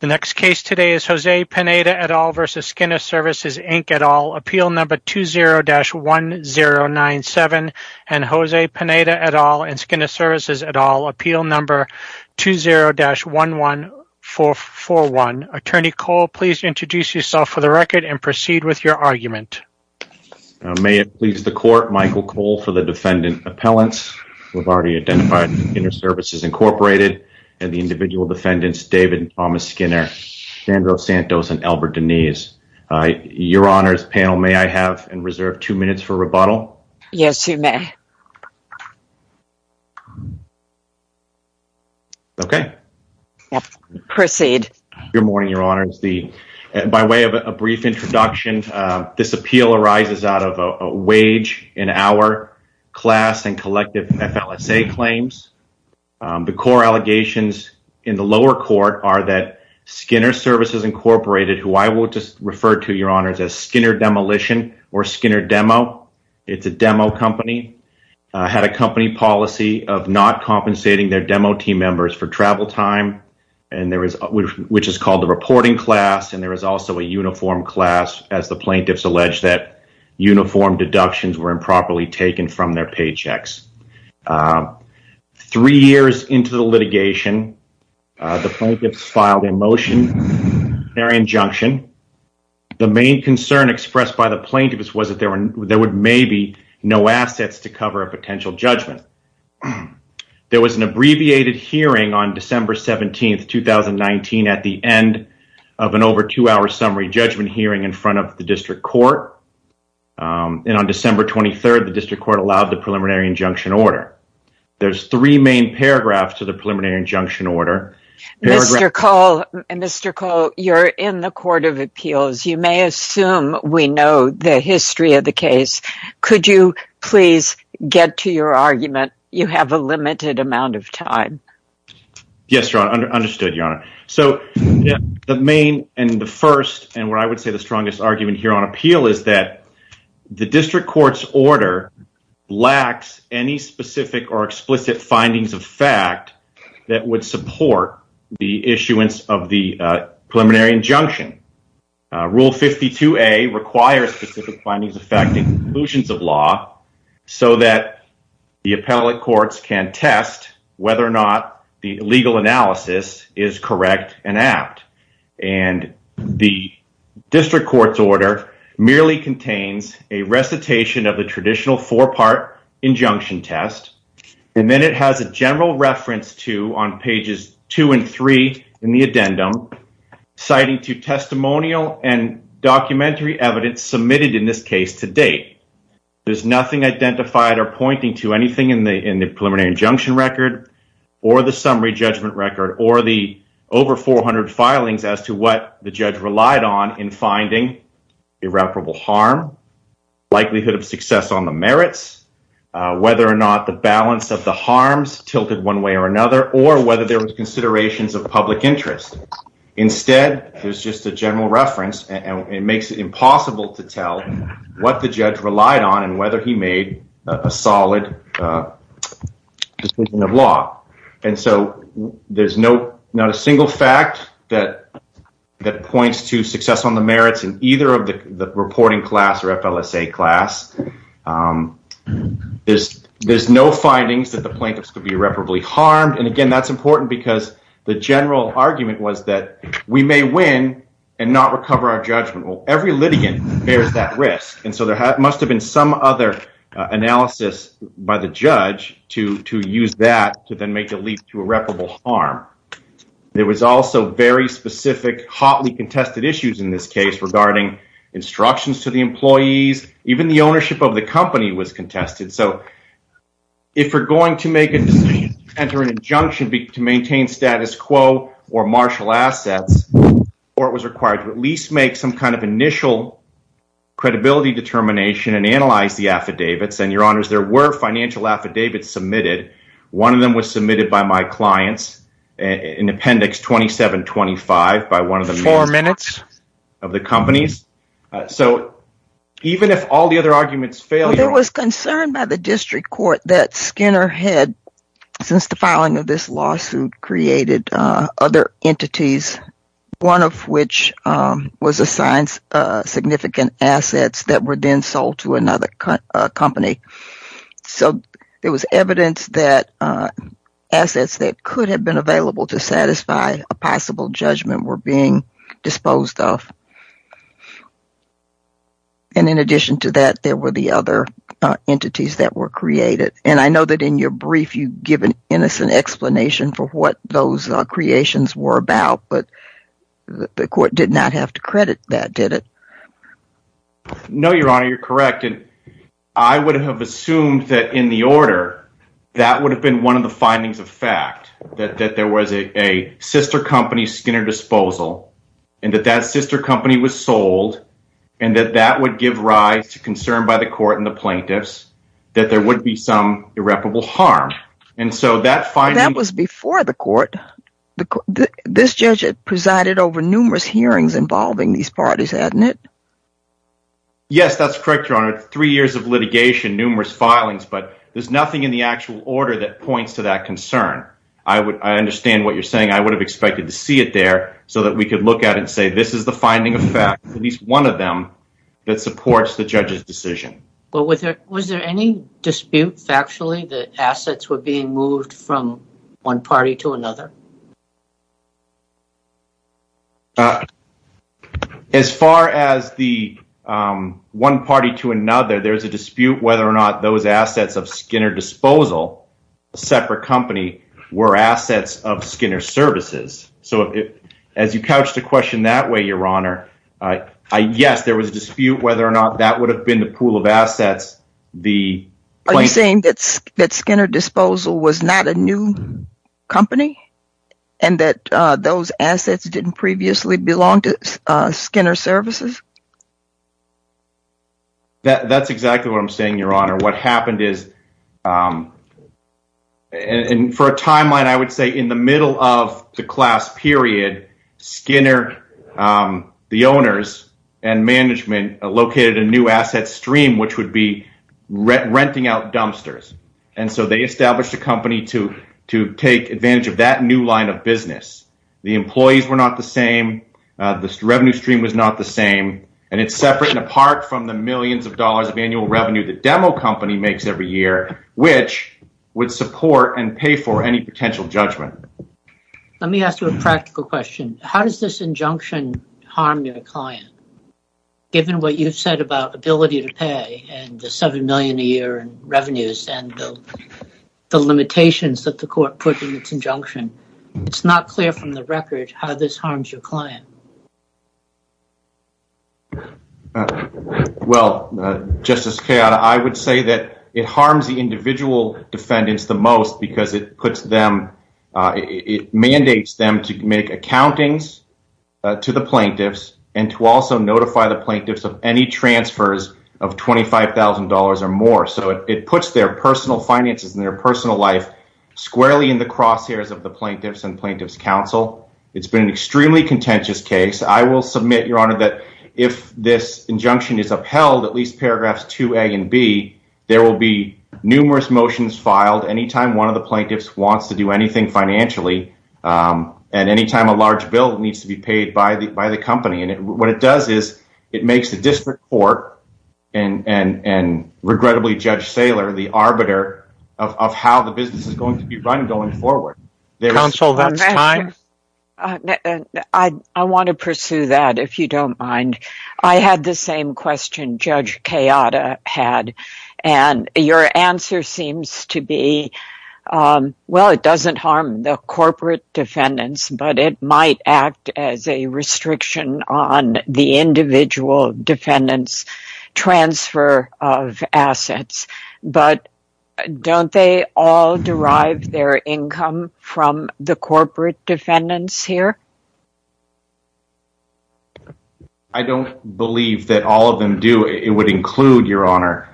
The next case today is Jose Pineda et al. v. Skinner Services, Inc. et al. Appeal number 20-1097 and Jose Pineda et al. and Skinner Services et al. Appeal number 20-11441. Attorney Cole, please introduce yourself for the record and proceed with your argument. May it please the court, Michael Cole for the defendant appellants. We've already identified Skinner Services, Inc. and the individual defendants, David and Thomas Skinner, Sandra Santos, and Albert Denise. Your honors, panel, may I have and reserve two minutes for rebuttal? Yes, you may. Okay. Proceed. Good morning, your honors. By way of a brief introduction, this appeal arises out of a wage and hour class and collective FLSA claims. The core allegations in the lower court are that Skinner Services, Inc., who I will just refer to, your honors, as Skinner Demolition or Skinner Demo, it's a demo company, had a company policy of not compensating their demo team members for travel time, which is called the reporting class, and there is also a uniform class, as the plaintiffs allege that uniform deductions were improperly taken from their paychecks. Three years into the litigation, the plaintiffs filed a motion, preliminary injunction. The main concern expressed by the plaintiffs was that there would maybe no assets to cover a potential judgment. There was an abbreviated hearing on December 17, 2019, at the end of an over two-hour summary judgment hearing in front of the district court, and on December 23, the district court allowed preliminary injunction order. There's three main paragraphs to the preliminary injunction order. Mr. Cole, you're in the court of appeals. You may assume we know the history of the case. Could you please get to your argument? You have a limited amount of time. Yes, your honor. Understood, your honor. So, the main and the first and what I would say the strongest argument here on appeal is that the district court's order lacks any specific or explicit findings of fact that would support the issuance of the preliminary injunction. Rule 52A requires specific findings of fact and conclusions of law, so that the appellate courts can test whether or not the legal analysis is correct and apt. And the district court's order merely contains a recitation of the traditional four-part injunction test, and then it has a general reference to, on pages two and three in the addendum, citing to testimonial and documentary evidence submitted in this case to date. There's nothing identified or pointing to anything in the preliminary injunction record or the summary judgment record or the over 400 filings as to what the judge relied on in finding irreparable harm, likelihood of success on the merits, whether or not the balance of the harms tilted one way or another, or whether there was considerations of public interest. Instead, there's just a general reference, and it makes it impossible to tell what the judge relied on and whether he made a solid decision of law. And so there's not a single fact that points to success on the merits in either of the reporting class or FLSA class. There's no findings that the plaintiffs could be irreparably harmed, and again, that's important because the general argument was that we may win and not recover our risk, and so there must have been some other analysis by the judge to use that to then make a leap to irreparable harm. There was also very specific, hotly contested issues in this case regarding instructions to the employees. Even the ownership of the company was contested, so if we're going to make a decision to enter an injunction to maintain status quo or martial assets, the court was required to at least make some kind of initial credibility determination and analyze the affidavits, and your honors, there were financial affidavits submitted. One of them was submitted by my clients in Appendix 2725 by one of the four minutes of the companies. So even if all the other arguments failed, there was concern by the one of which was assigned significant assets that were then sold to another company. So there was evidence that assets that could have been available to satisfy a possible judgment were being disposed of, and in addition to that, there were the other entities that were created, and I the court did not have to credit that, did it? No, your honor, you're correct, and I would have assumed that in the order, that would have been one of the findings of fact, that there was a sister company Skinner Disposal, and that that sister company was sold, and that that would give rise to concern by the court and the plaintiffs, that there would be some irreparable harm, and so that was before the court. This judge had presided over numerous hearings involving these parties, hadn't it? Yes, that's correct, your honor. Three years of litigation, numerous filings, but there's nothing in the actual order that points to that concern. I understand what you're saying. I would have expected to see it there so that we could look at it and say, this is the finding of fact, at least one of them that supports the judge's decision. Well, was there any dispute factually that assets were being moved from one party to another? As far as the one party to another, there's a dispute whether or not those assets of Skinner Disposal, a separate company, were assets of Skinner Services, so as you couch the question that way, your honor, yes, there was a dispute whether or not that would have been the pool of assets. Are you saying that Skinner Disposal was not a new company and that those assets didn't previously belong to Skinner Services? That's exactly what I'm saying, your honor. What happened is, and for a timeline, I would say in the middle of the class period, Skinner, the owners and the employees were not the same. The revenue stream was not the same, and it's separate and apart from the millions of dollars of annual revenue the demo company makes every year, which would support and pay for any potential judgment. Let me ask you a practical question. How does this injunction harm your client, given what you've said about ability to pay and the seven million a year in revenues and the limitations that the court put in the injunction? It's not clear from the record how this harms your client. Well, Justice Kayotta, I would say that it harms the individual defendants the most because it mandates them to make accountings to the plaintiffs and to also notify the plaintiffs of any transfers of $25,000 or more. So it puts their personal finances and their personal life squarely in the crosshairs of the plaintiffs and plaintiffs counsel. It's been an extremely contentious case. I will submit, your honor, that if this injunction is upheld, at least paragraphs 2a and b, there will be numerous motions filed any time one of the plaintiffs wants to do anything financially and any time a large bill needs to be paid by the company. What it does is it makes the district court and regrettably, Judge Saylor, the arbiter of how the business is going to be run going forward. I want to pursue that, if you don't mind. I had the same question Judge Kayotta had. Your answer seems to be, well, it doesn't harm the corporate defendants, but it might act as a restriction on the individual defendants' transfer of assets. Don't they all derive their income from the corporate defendants here? I don't believe that all of them do. It would include, your honor,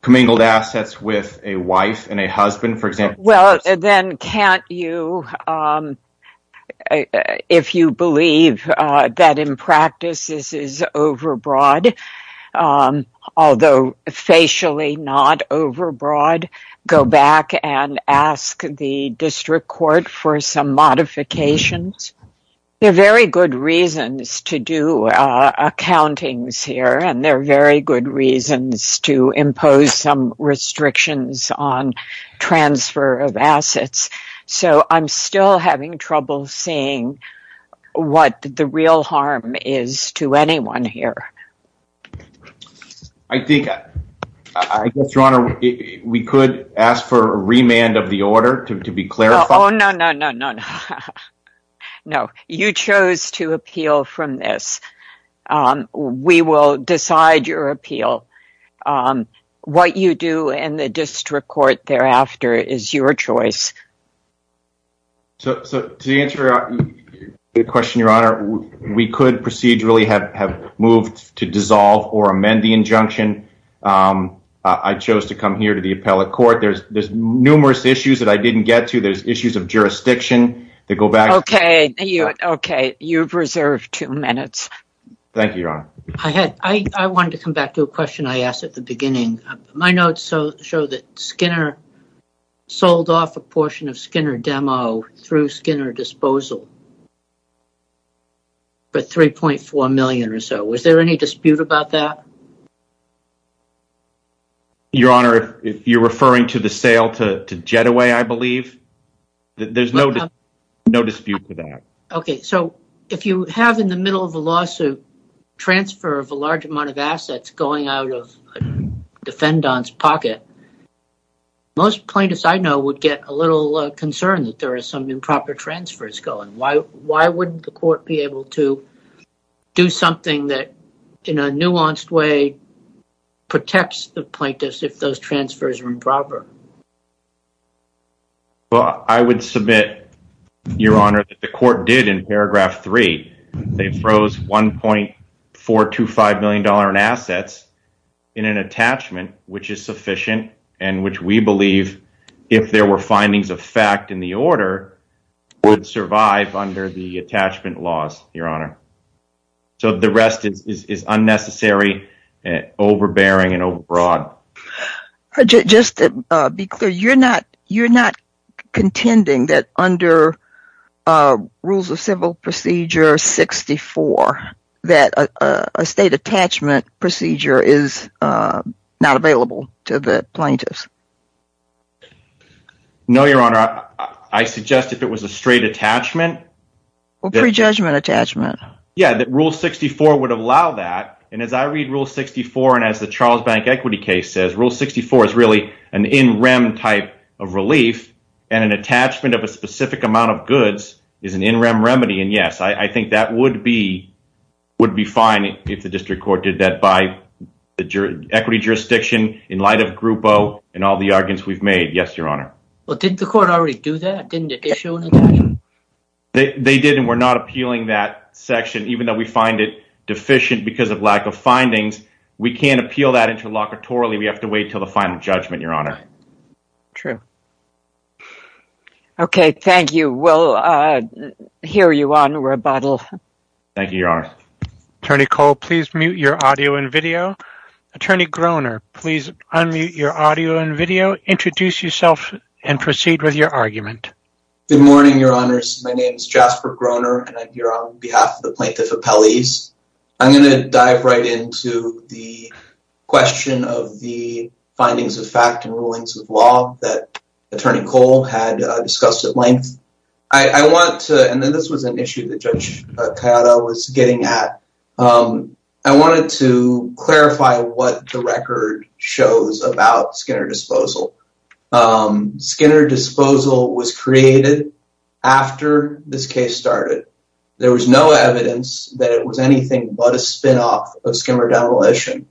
commingled assets with a wife and a husband, for example. Well, then can't you, if you believe that in practice this is overbroad, although facially not overbroad, go back and ask the district court for some modifications? There are very good reasons to do accountings here, and there are very good reasons to impose some restrictions on transfer of assets. So, I'm still having trouble seeing what the real harm is to anyone here. I think, I guess, your honor, we could ask for a remand of the order to be clarified. Oh, no, no, no, no, no. You chose to appeal from this. We will decide your appeal. What you do in the district court thereafter is your choice. So, to answer your question, your honor, we could procedurally have moved to dissolve or amend the injunction. I chose to come here to the appellate court. There's numerous issues that I didn't get to. There's issues of jurisdiction that go back. Okay, okay, you've reserved two minutes. Thank you, your honor. I had, I wanted to come back to a question I asked at the beginning. My notes show that Skinner sold off a portion of Skinner Demo through Skinner Disposal for $3.4 million or so. Was there any dispute about that? Your honor, if you're referring to the sale to JetAway, I believe, there's no dispute with that. Okay, so if you have in the middle of a lawsuit transfer of a large amount of assets going out of Fendon's pocket, most plaintiffs I know would get a little concerned that there are some improper transfers going. Why wouldn't the court be able to do something that in a nuanced way protects the plaintiffs if those transfers are improper? Well, I would submit, your honor, that the court did in paragraph three. They froze $1.425 million in assets in an attachment which is sufficient and which we believe, if there were findings of fact in the order, would survive under the attachment laws, your honor. So the rest is unnecessary, overbearing, and overbroad. But just to be clear, you're not contending that under Rules of Civil Procedure 64 that a state attachment procedure is not available to the plaintiffs? No, your honor. I suggest if it was a straight attachment... Or prejudgment attachment. Yeah, that Rule 64 would allow that, and as I read Rule 64 and as the Charles Bank equity case says, Rule 64 is really an in-rem type of relief and an attachment of a specific amount of goods is an in-rem remedy, and yes, I think that would be fine if the district court did that by the equity jurisdiction in light of Group O and all the arguments we've made. Yes, your honor. Well, did the court already do that? They did and we're not appealing that section even though we find it in the case of Group O and all the arguments we've made in light of findings, we can't appeal that interlocutorily. We have to wait till the final judgment, your honor. True. Okay, thank you. We'll hear you on rebuttal. Thank you, your honor. Attorney Cole, please mute your audio and video. Attorney Groner, please unmute your audio and video, introduce yourself, and proceed with your argument. Good morning, your honors. My name is Plaintiff Apelles. I'm going to dive right into the question of the findings of fact and rulings of law that Attorney Cole had discussed at length. I want to, and then this was an issue that Judge Kayada was getting at, I wanted to clarify what the record shows about Skinner Disposal. Skinner Disposal was created after this case started. There was no evidence that it was anything but a spinoff of Skinner Demolition.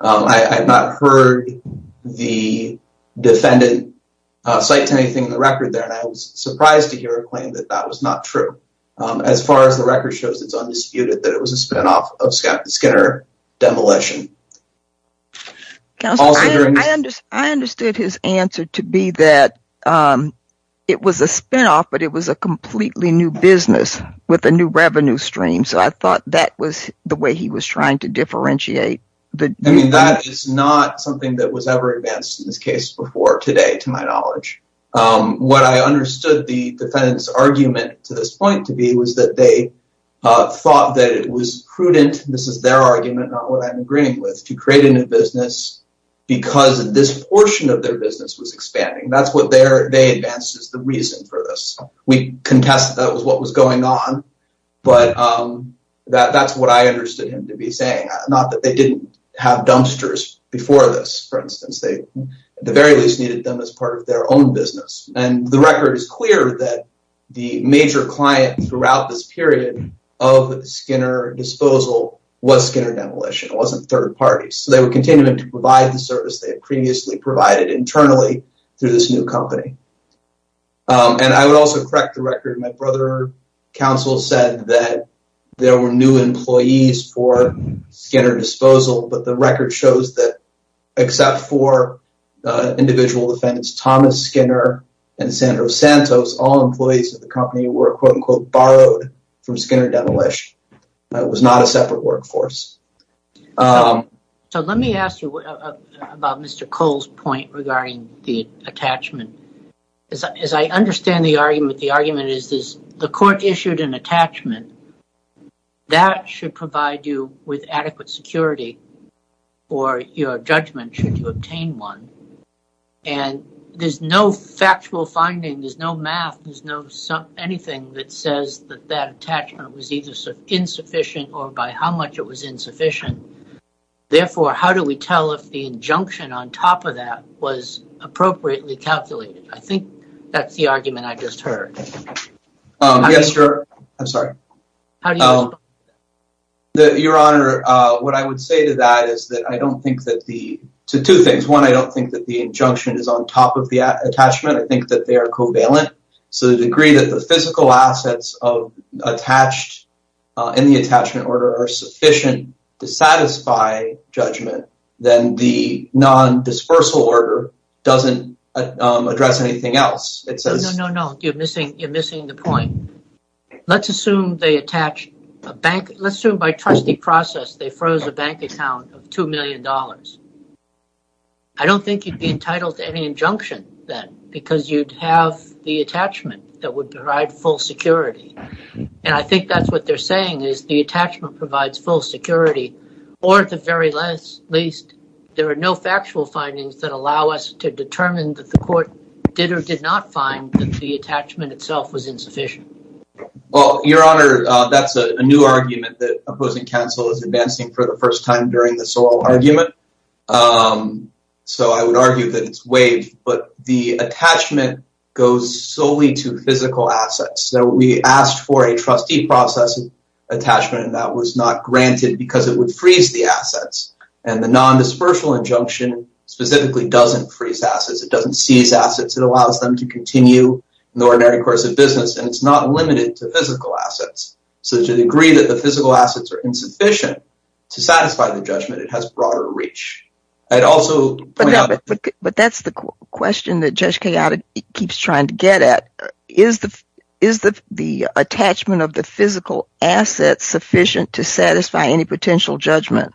I have not heard the defendant cite to anything in the record there and I was surprised to hear a claim that that was not true. As far as the record shows, it's undisputed that it was a spinoff of Skinner Demolition. Counselor, I understood his answer to be that it was a spinoff, but it was a completely new business with a new revenue stream. So, I thought that was the way he was trying to differentiate. I mean, that is not something that was ever advanced in this case before today, to my knowledge. What I understood the defendant's argument to this point to be was that they thought that it was prudent, this is their argument, not what I'm agreeing with, to create a new business because this portion of their business was expanding. That's what they advanced as the reason for this. We contested that was what was going on, but that's what I understood him to be saying. Not that they didn't have dumpsters before this, for instance. They, at the very least, needed them as part of their own business. The record is clear that the major client throughout this period of Skinner Disposal was Skinner Demolition. It wasn't third parties. They would continue to provide the service they had previously provided internally through this new company. I would also correct the record. My brother counsel said that there were new employees for Skinner Disposal, but the record shows that except for individual defendants Thomas Skinner and Sandro Santos, all employees of the company were quote-unquote borrowed from Skinner Demolition. It was not a separate workforce. Let me ask you about Mr. Cole's point regarding the attachment. As I understand the argument, the argument is this. The court issued an attachment that should provide you with adequate security for your judgment should you obtain one. There's no factual finding. There's no math. There's no anything that says that that attachment was either insufficient or by how much it was insufficient. Therefore, how do we tell if the injunction on top of that was appropriately calculated? I think that's the argument I just heard. Yes, sir. I'm sorry. Your Honor, what I would say to that is that I don't think that the two things. One, I don't think that the injunction is on top of the attachment. I think that they are covalent. So, the degree that the physical assets of attached in the attachment order are sufficient to satisfy judgment, then the non-dispersal order doesn't address anything else. No, no, no. You're missing the point. Let's assume by trustee process they froze a bank account of $2 million. I don't think you'd be entitled to any injunction then because you'd have the attachment that would provide full security. I think that's what they're saying is the attachment provides full security or at the very least, there are no factual findings that allow us to determine that the court did or did not find that the attachment itself was insufficient. Well, Your Honor, that's a new argument that opposing counsel is advancing for the first time during this whole argument. So, I would argue that it's waived, but the attachment goes solely to physical assets. So, we asked for a trustee process attachment and that was not granted because it would freeze the assets and the non-dispersal injunction specifically doesn't freeze assets. It doesn't seize assets. It allows them to continue in the ordinary course of business and it's not limited to physical assets. So, to the degree that the physical assets are insufficient to satisfy the judgment, it has broader reach. But that's the question that Judge Caglioti keeps trying to get at. Is the attachment of the physical assets sufficient to satisfy any potential judgment?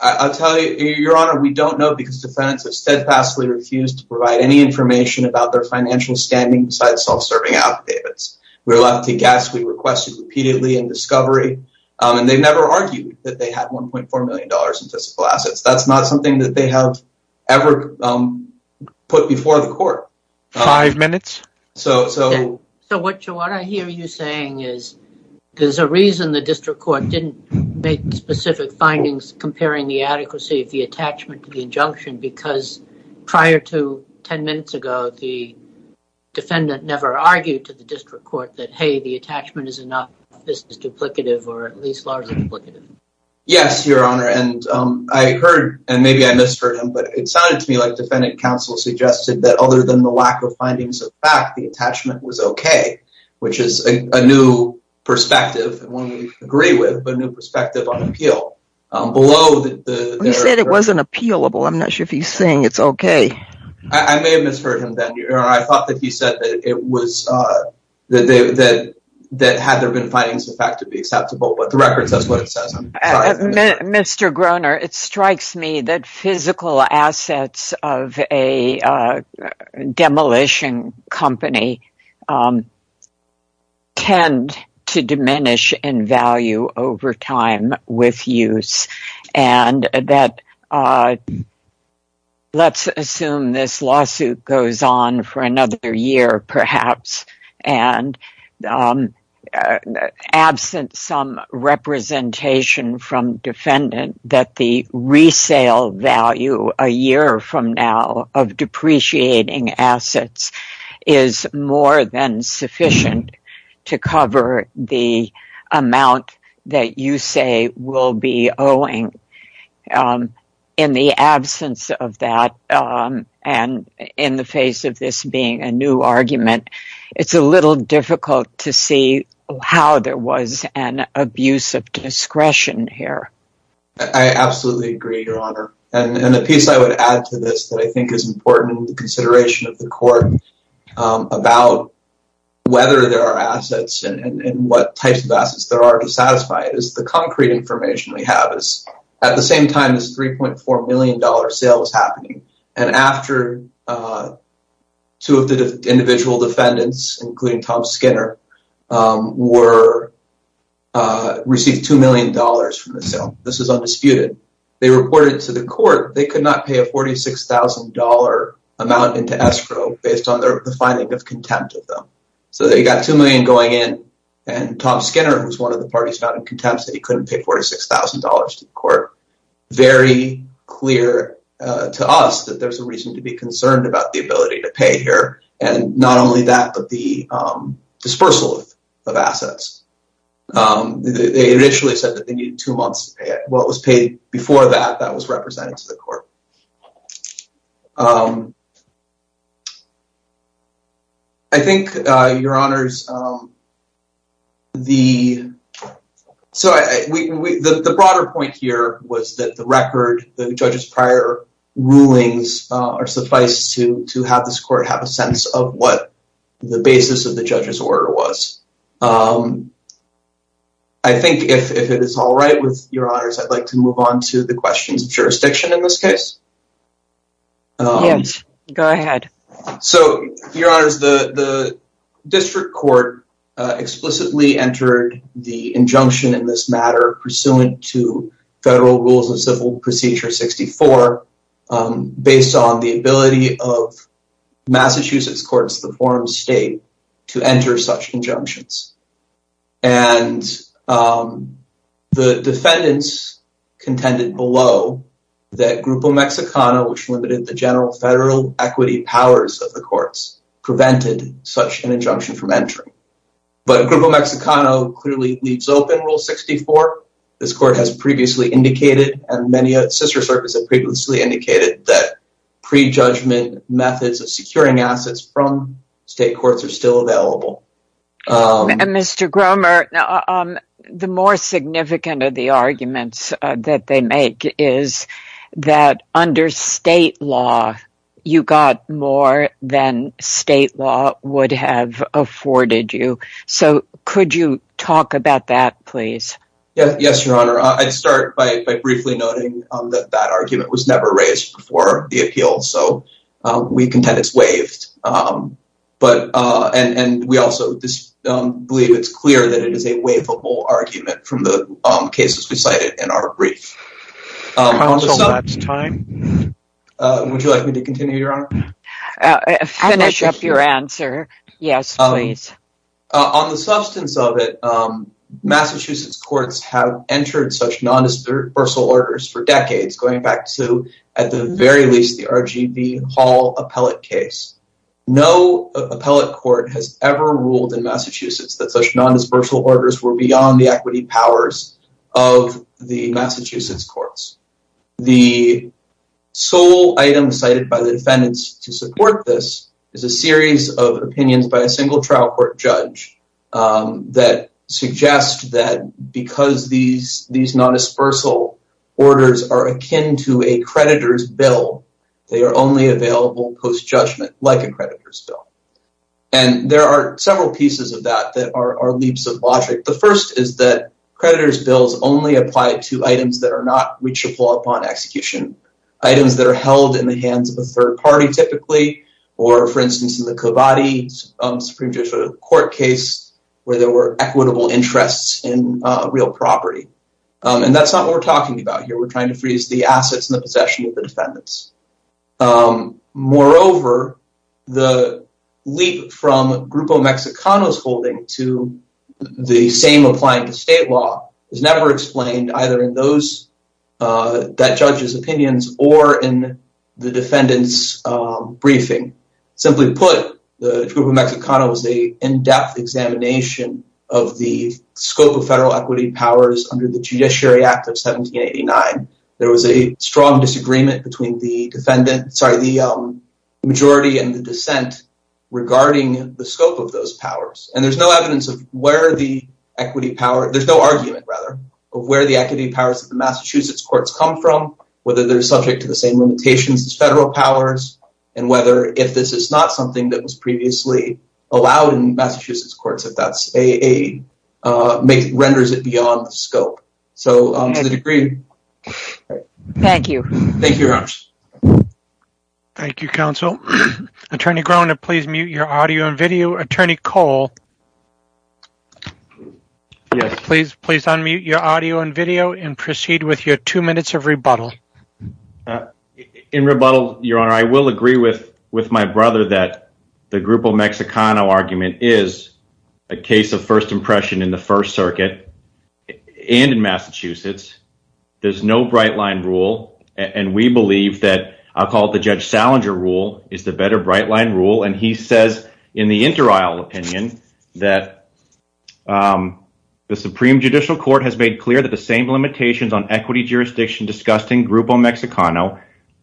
I'll tell you, Your Honor, we don't know because defendants have steadfastly refused to provide any information about their financial standing besides self-serving affidavits. We were left to guess. We requested repeatedly in discovery and they've never argued that they had $1.4 million in physical assets. That's not something that they have ever put before the court. Five minutes. So, what I hear you saying is there's a reason the district court didn't make specific findings comparing the adequacy of the attachment to the injunction because prior to 10 minutes ago, the defendant never argued to the district court that, hey, the attachment is enough. This is duplicative or at least largely duplicative. Yes, Your Honor, and I heard and maybe I misheard him but it sounded to me like defendant counsel suggested that other than the lack of findings of fact, the attachment was okay which is a new perspective and one we agree with but a new perspective on appeal. You said it wasn't appealable. I'm not sure if he's saying it's okay. I may have misheard him then. I thought that he said that had there been findings of fact to be acceptable but the record says what it says. Mr. Groener, it strikes me that physical assets of a demolition company tend to diminish in value over time with use and that let's assume this lawsuit goes on for another year perhaps and absent some representation from defendant that the resale value a year from now of depreciating assets is more than sufficient to cover the amount that you say will be owing. In the absence of that and in the face of this being a new argument, it's a little difficult to see how there was an abuse of discretion here. I absolutely agree your honor and a piece I would add to this that I think is important in the consideration of the court about whether there are assets and what types of assets there are to satisfy it is the concrete information we have is at the same time as $3.4 million sales happening and after two of the individual defendants including Tom Skinner received $2 million from the sale. This is undisputed. They reported to the court they could not pay a $46,000 amount into escrow based on the finding of contempt of them. So they got $2 million going in and Tom Skinner was one of the parties found in contempt that he couldn't pay $46,000 to the court. Very clear to us that there's a reason to be concerned about the ability to pay here and not only that but the dispersal of assets. They initially said that they needed two months to pay it. What was paid before that, that was represented to the court. I think your honors, the broader point here was that the record, the judge's prior rulings are sufficed to have this court have a sense of what the basis of the judge's order was. I think if it is all right with your honors, I'd like to move on to the questions of jurisdiction in this case. Yes, go ahead. So your honors, the district court explicitly entered the injunction in this matter pursuant to Federal Rules of Civil Procedure 64 based on the ability of Massachusetts courts to form state to enter such injunctions. The defendants contended below that Grupo Mexicano, which limited the general federal equity powers of the courts, prevented such an injunction from entering. But Grupo Mexicano clearly leaves open Rule 64. This court has previously indicated and many sister circuits have previously indicated that pre-judgment methods of securing assets from state courts are still available. Mr. Gromer, the more significant of the arguments that they make is that under state law, you got more than state law would have afforded you. So could you talk about that, please? Yes, your honor. I'd start by briefly noting that that argument was never raised before the appeal, so we contend it's waived. And we also believe it's clear that it is a waivable argument from cases we cited in our brief. Counsel, that's time. Would you like me to continue, your honor? Finish up your answer. Yes, please. On the substance of it, Massachusetts courts have entered such non-dispersal orders for decades, going back to, at the very least, the RGV Hall appellate case. No appellate court has ever ruled in Massachusetts that such non-dispersal orders were beyond the equity powers of the Massachusetts courts. The sole item cited by the defendants to support this is a series of opinions by a single trial court judge that suggests that because these non-dispersal orders are akin to a creditor's bill, they are only available post-judgment, like a creditor's bill. And there are several pieces of that that are leaps of logic. The first is that creditor's bills only apply to items that are not reachable upon execution. Items that are held in the hands of a third party, typically, or, for instance, in the Cavati Supreme Judicial Court case, where there were equitable interests in real property. And that's not what we're talking about here. We're trying to freeze the assets and the possession of the defendants. Moreover, the leap from Grupo Mexicano's holding to the same applying to state law is never explained, either in that judge's opinions or in the defendant's briefing. Simply put, the Grupo Mexicano is an in-depth examination of the scope of federal equity powers under the Judiciary Act of 1789. There was a strong disagreement between the majority and the dissent regarding the scope of those powers. And there's no argument of where the equity powers of the Massachusetts courts come from, whether they're subject to the same limitations as federal powers, and whether if this is not something that was previously allowed in scope. So, to the degree... Thank you. Thank you, Your Honor. Thank you, counsel. Attorney Groen, please mute your audio and video. Attorney Cole? Yes. Please unmute your audio and video and proceed with your two minutes of rebuttal. In rebuttal, Your Honor, I will agree with my brother that the Grupo Mexicano argument is a case of first impression in the First Circuit and in Massachusetts. There's no bright-line rule, and we believe that I'll call it the Judge Salinger rule is the better bright-line rule, and he says in the inter-aisle opinion that the Supreme Judicial Court has made clear that the same limitations on equity jurisdiction discussed in Grupo Mexicano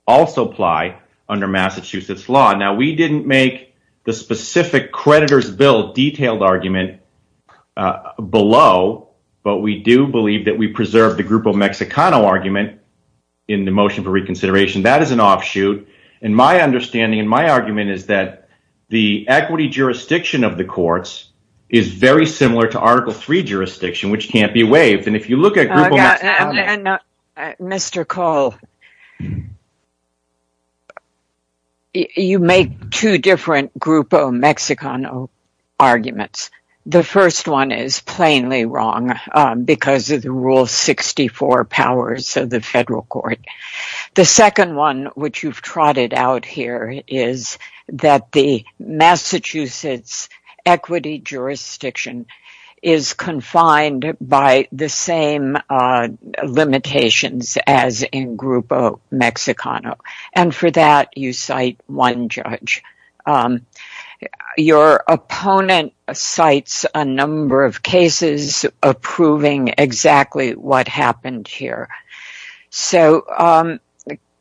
also apply under Massachusetts law. Now, we didn't make the specific creditor's bill detailed argument below, but we do believe that we preserve the Grupo Mexicano argument in the motion for reconsideration. That is an offshoot, and my understanding and my argument is that the equity jurisdiction of the courts is very similar to Article III jurisdiction, which can't be waived. And if you look at... And Mr. Cole, you make two different Grupo Mexicano arguments. The first one is plainly wrong because of the Rule 64 powers of the federal court. The second one, which you've trotted out here, is that the limitations as in Grupo Mexicano. And for that, you cite one judge. Your opponent cites a number of cases approving exactly what happened here. So,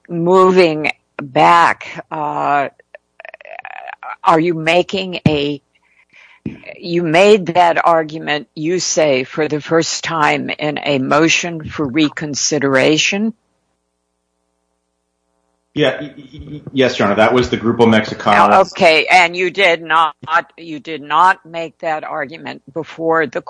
moving back, are you making a... You made that argument, you say, for the first time in a motion for reconsideration? Yes, Your Honor. That was the Grupo Mexicano. Okay. And you did not make that argument? That's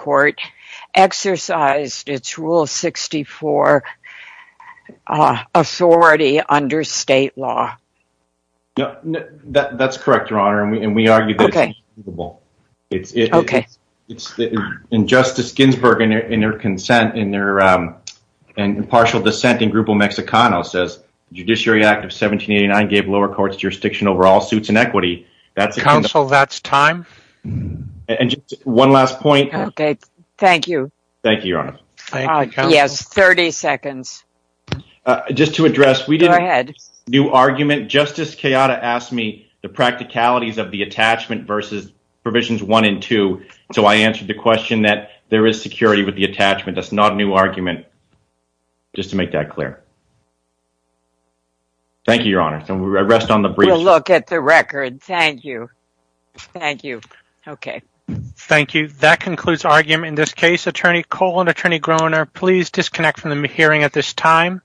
correct, Your Honor, and we argued that it's... Okay. And Justice Ginsburg, in her consent, in her impartial dissent in Grupo Mexicano, says, Judiciary Act of 1789 gave lower courts jurisdiction over all suits and equity. That's... Counsel, that's time. And just one last point. Okay, thank you. Thank you, Your Honor. Yes, 30 seconds. Just to address, we didn't... Go ahead. ...do argument. Justice Coyota asked me the practicalities of the attachment versus provisions one and two. So, I answered the question that there is security with the attachment. That's not a new argument, just to make that clear. Thank you, Your Honor. So, I rest on the brief. We'll look at the record. Thank you. Thank you. Okay. Thank you. That concludes argument. In this case, Cole and Attorney Groener, please disconnect from the hearing at this time.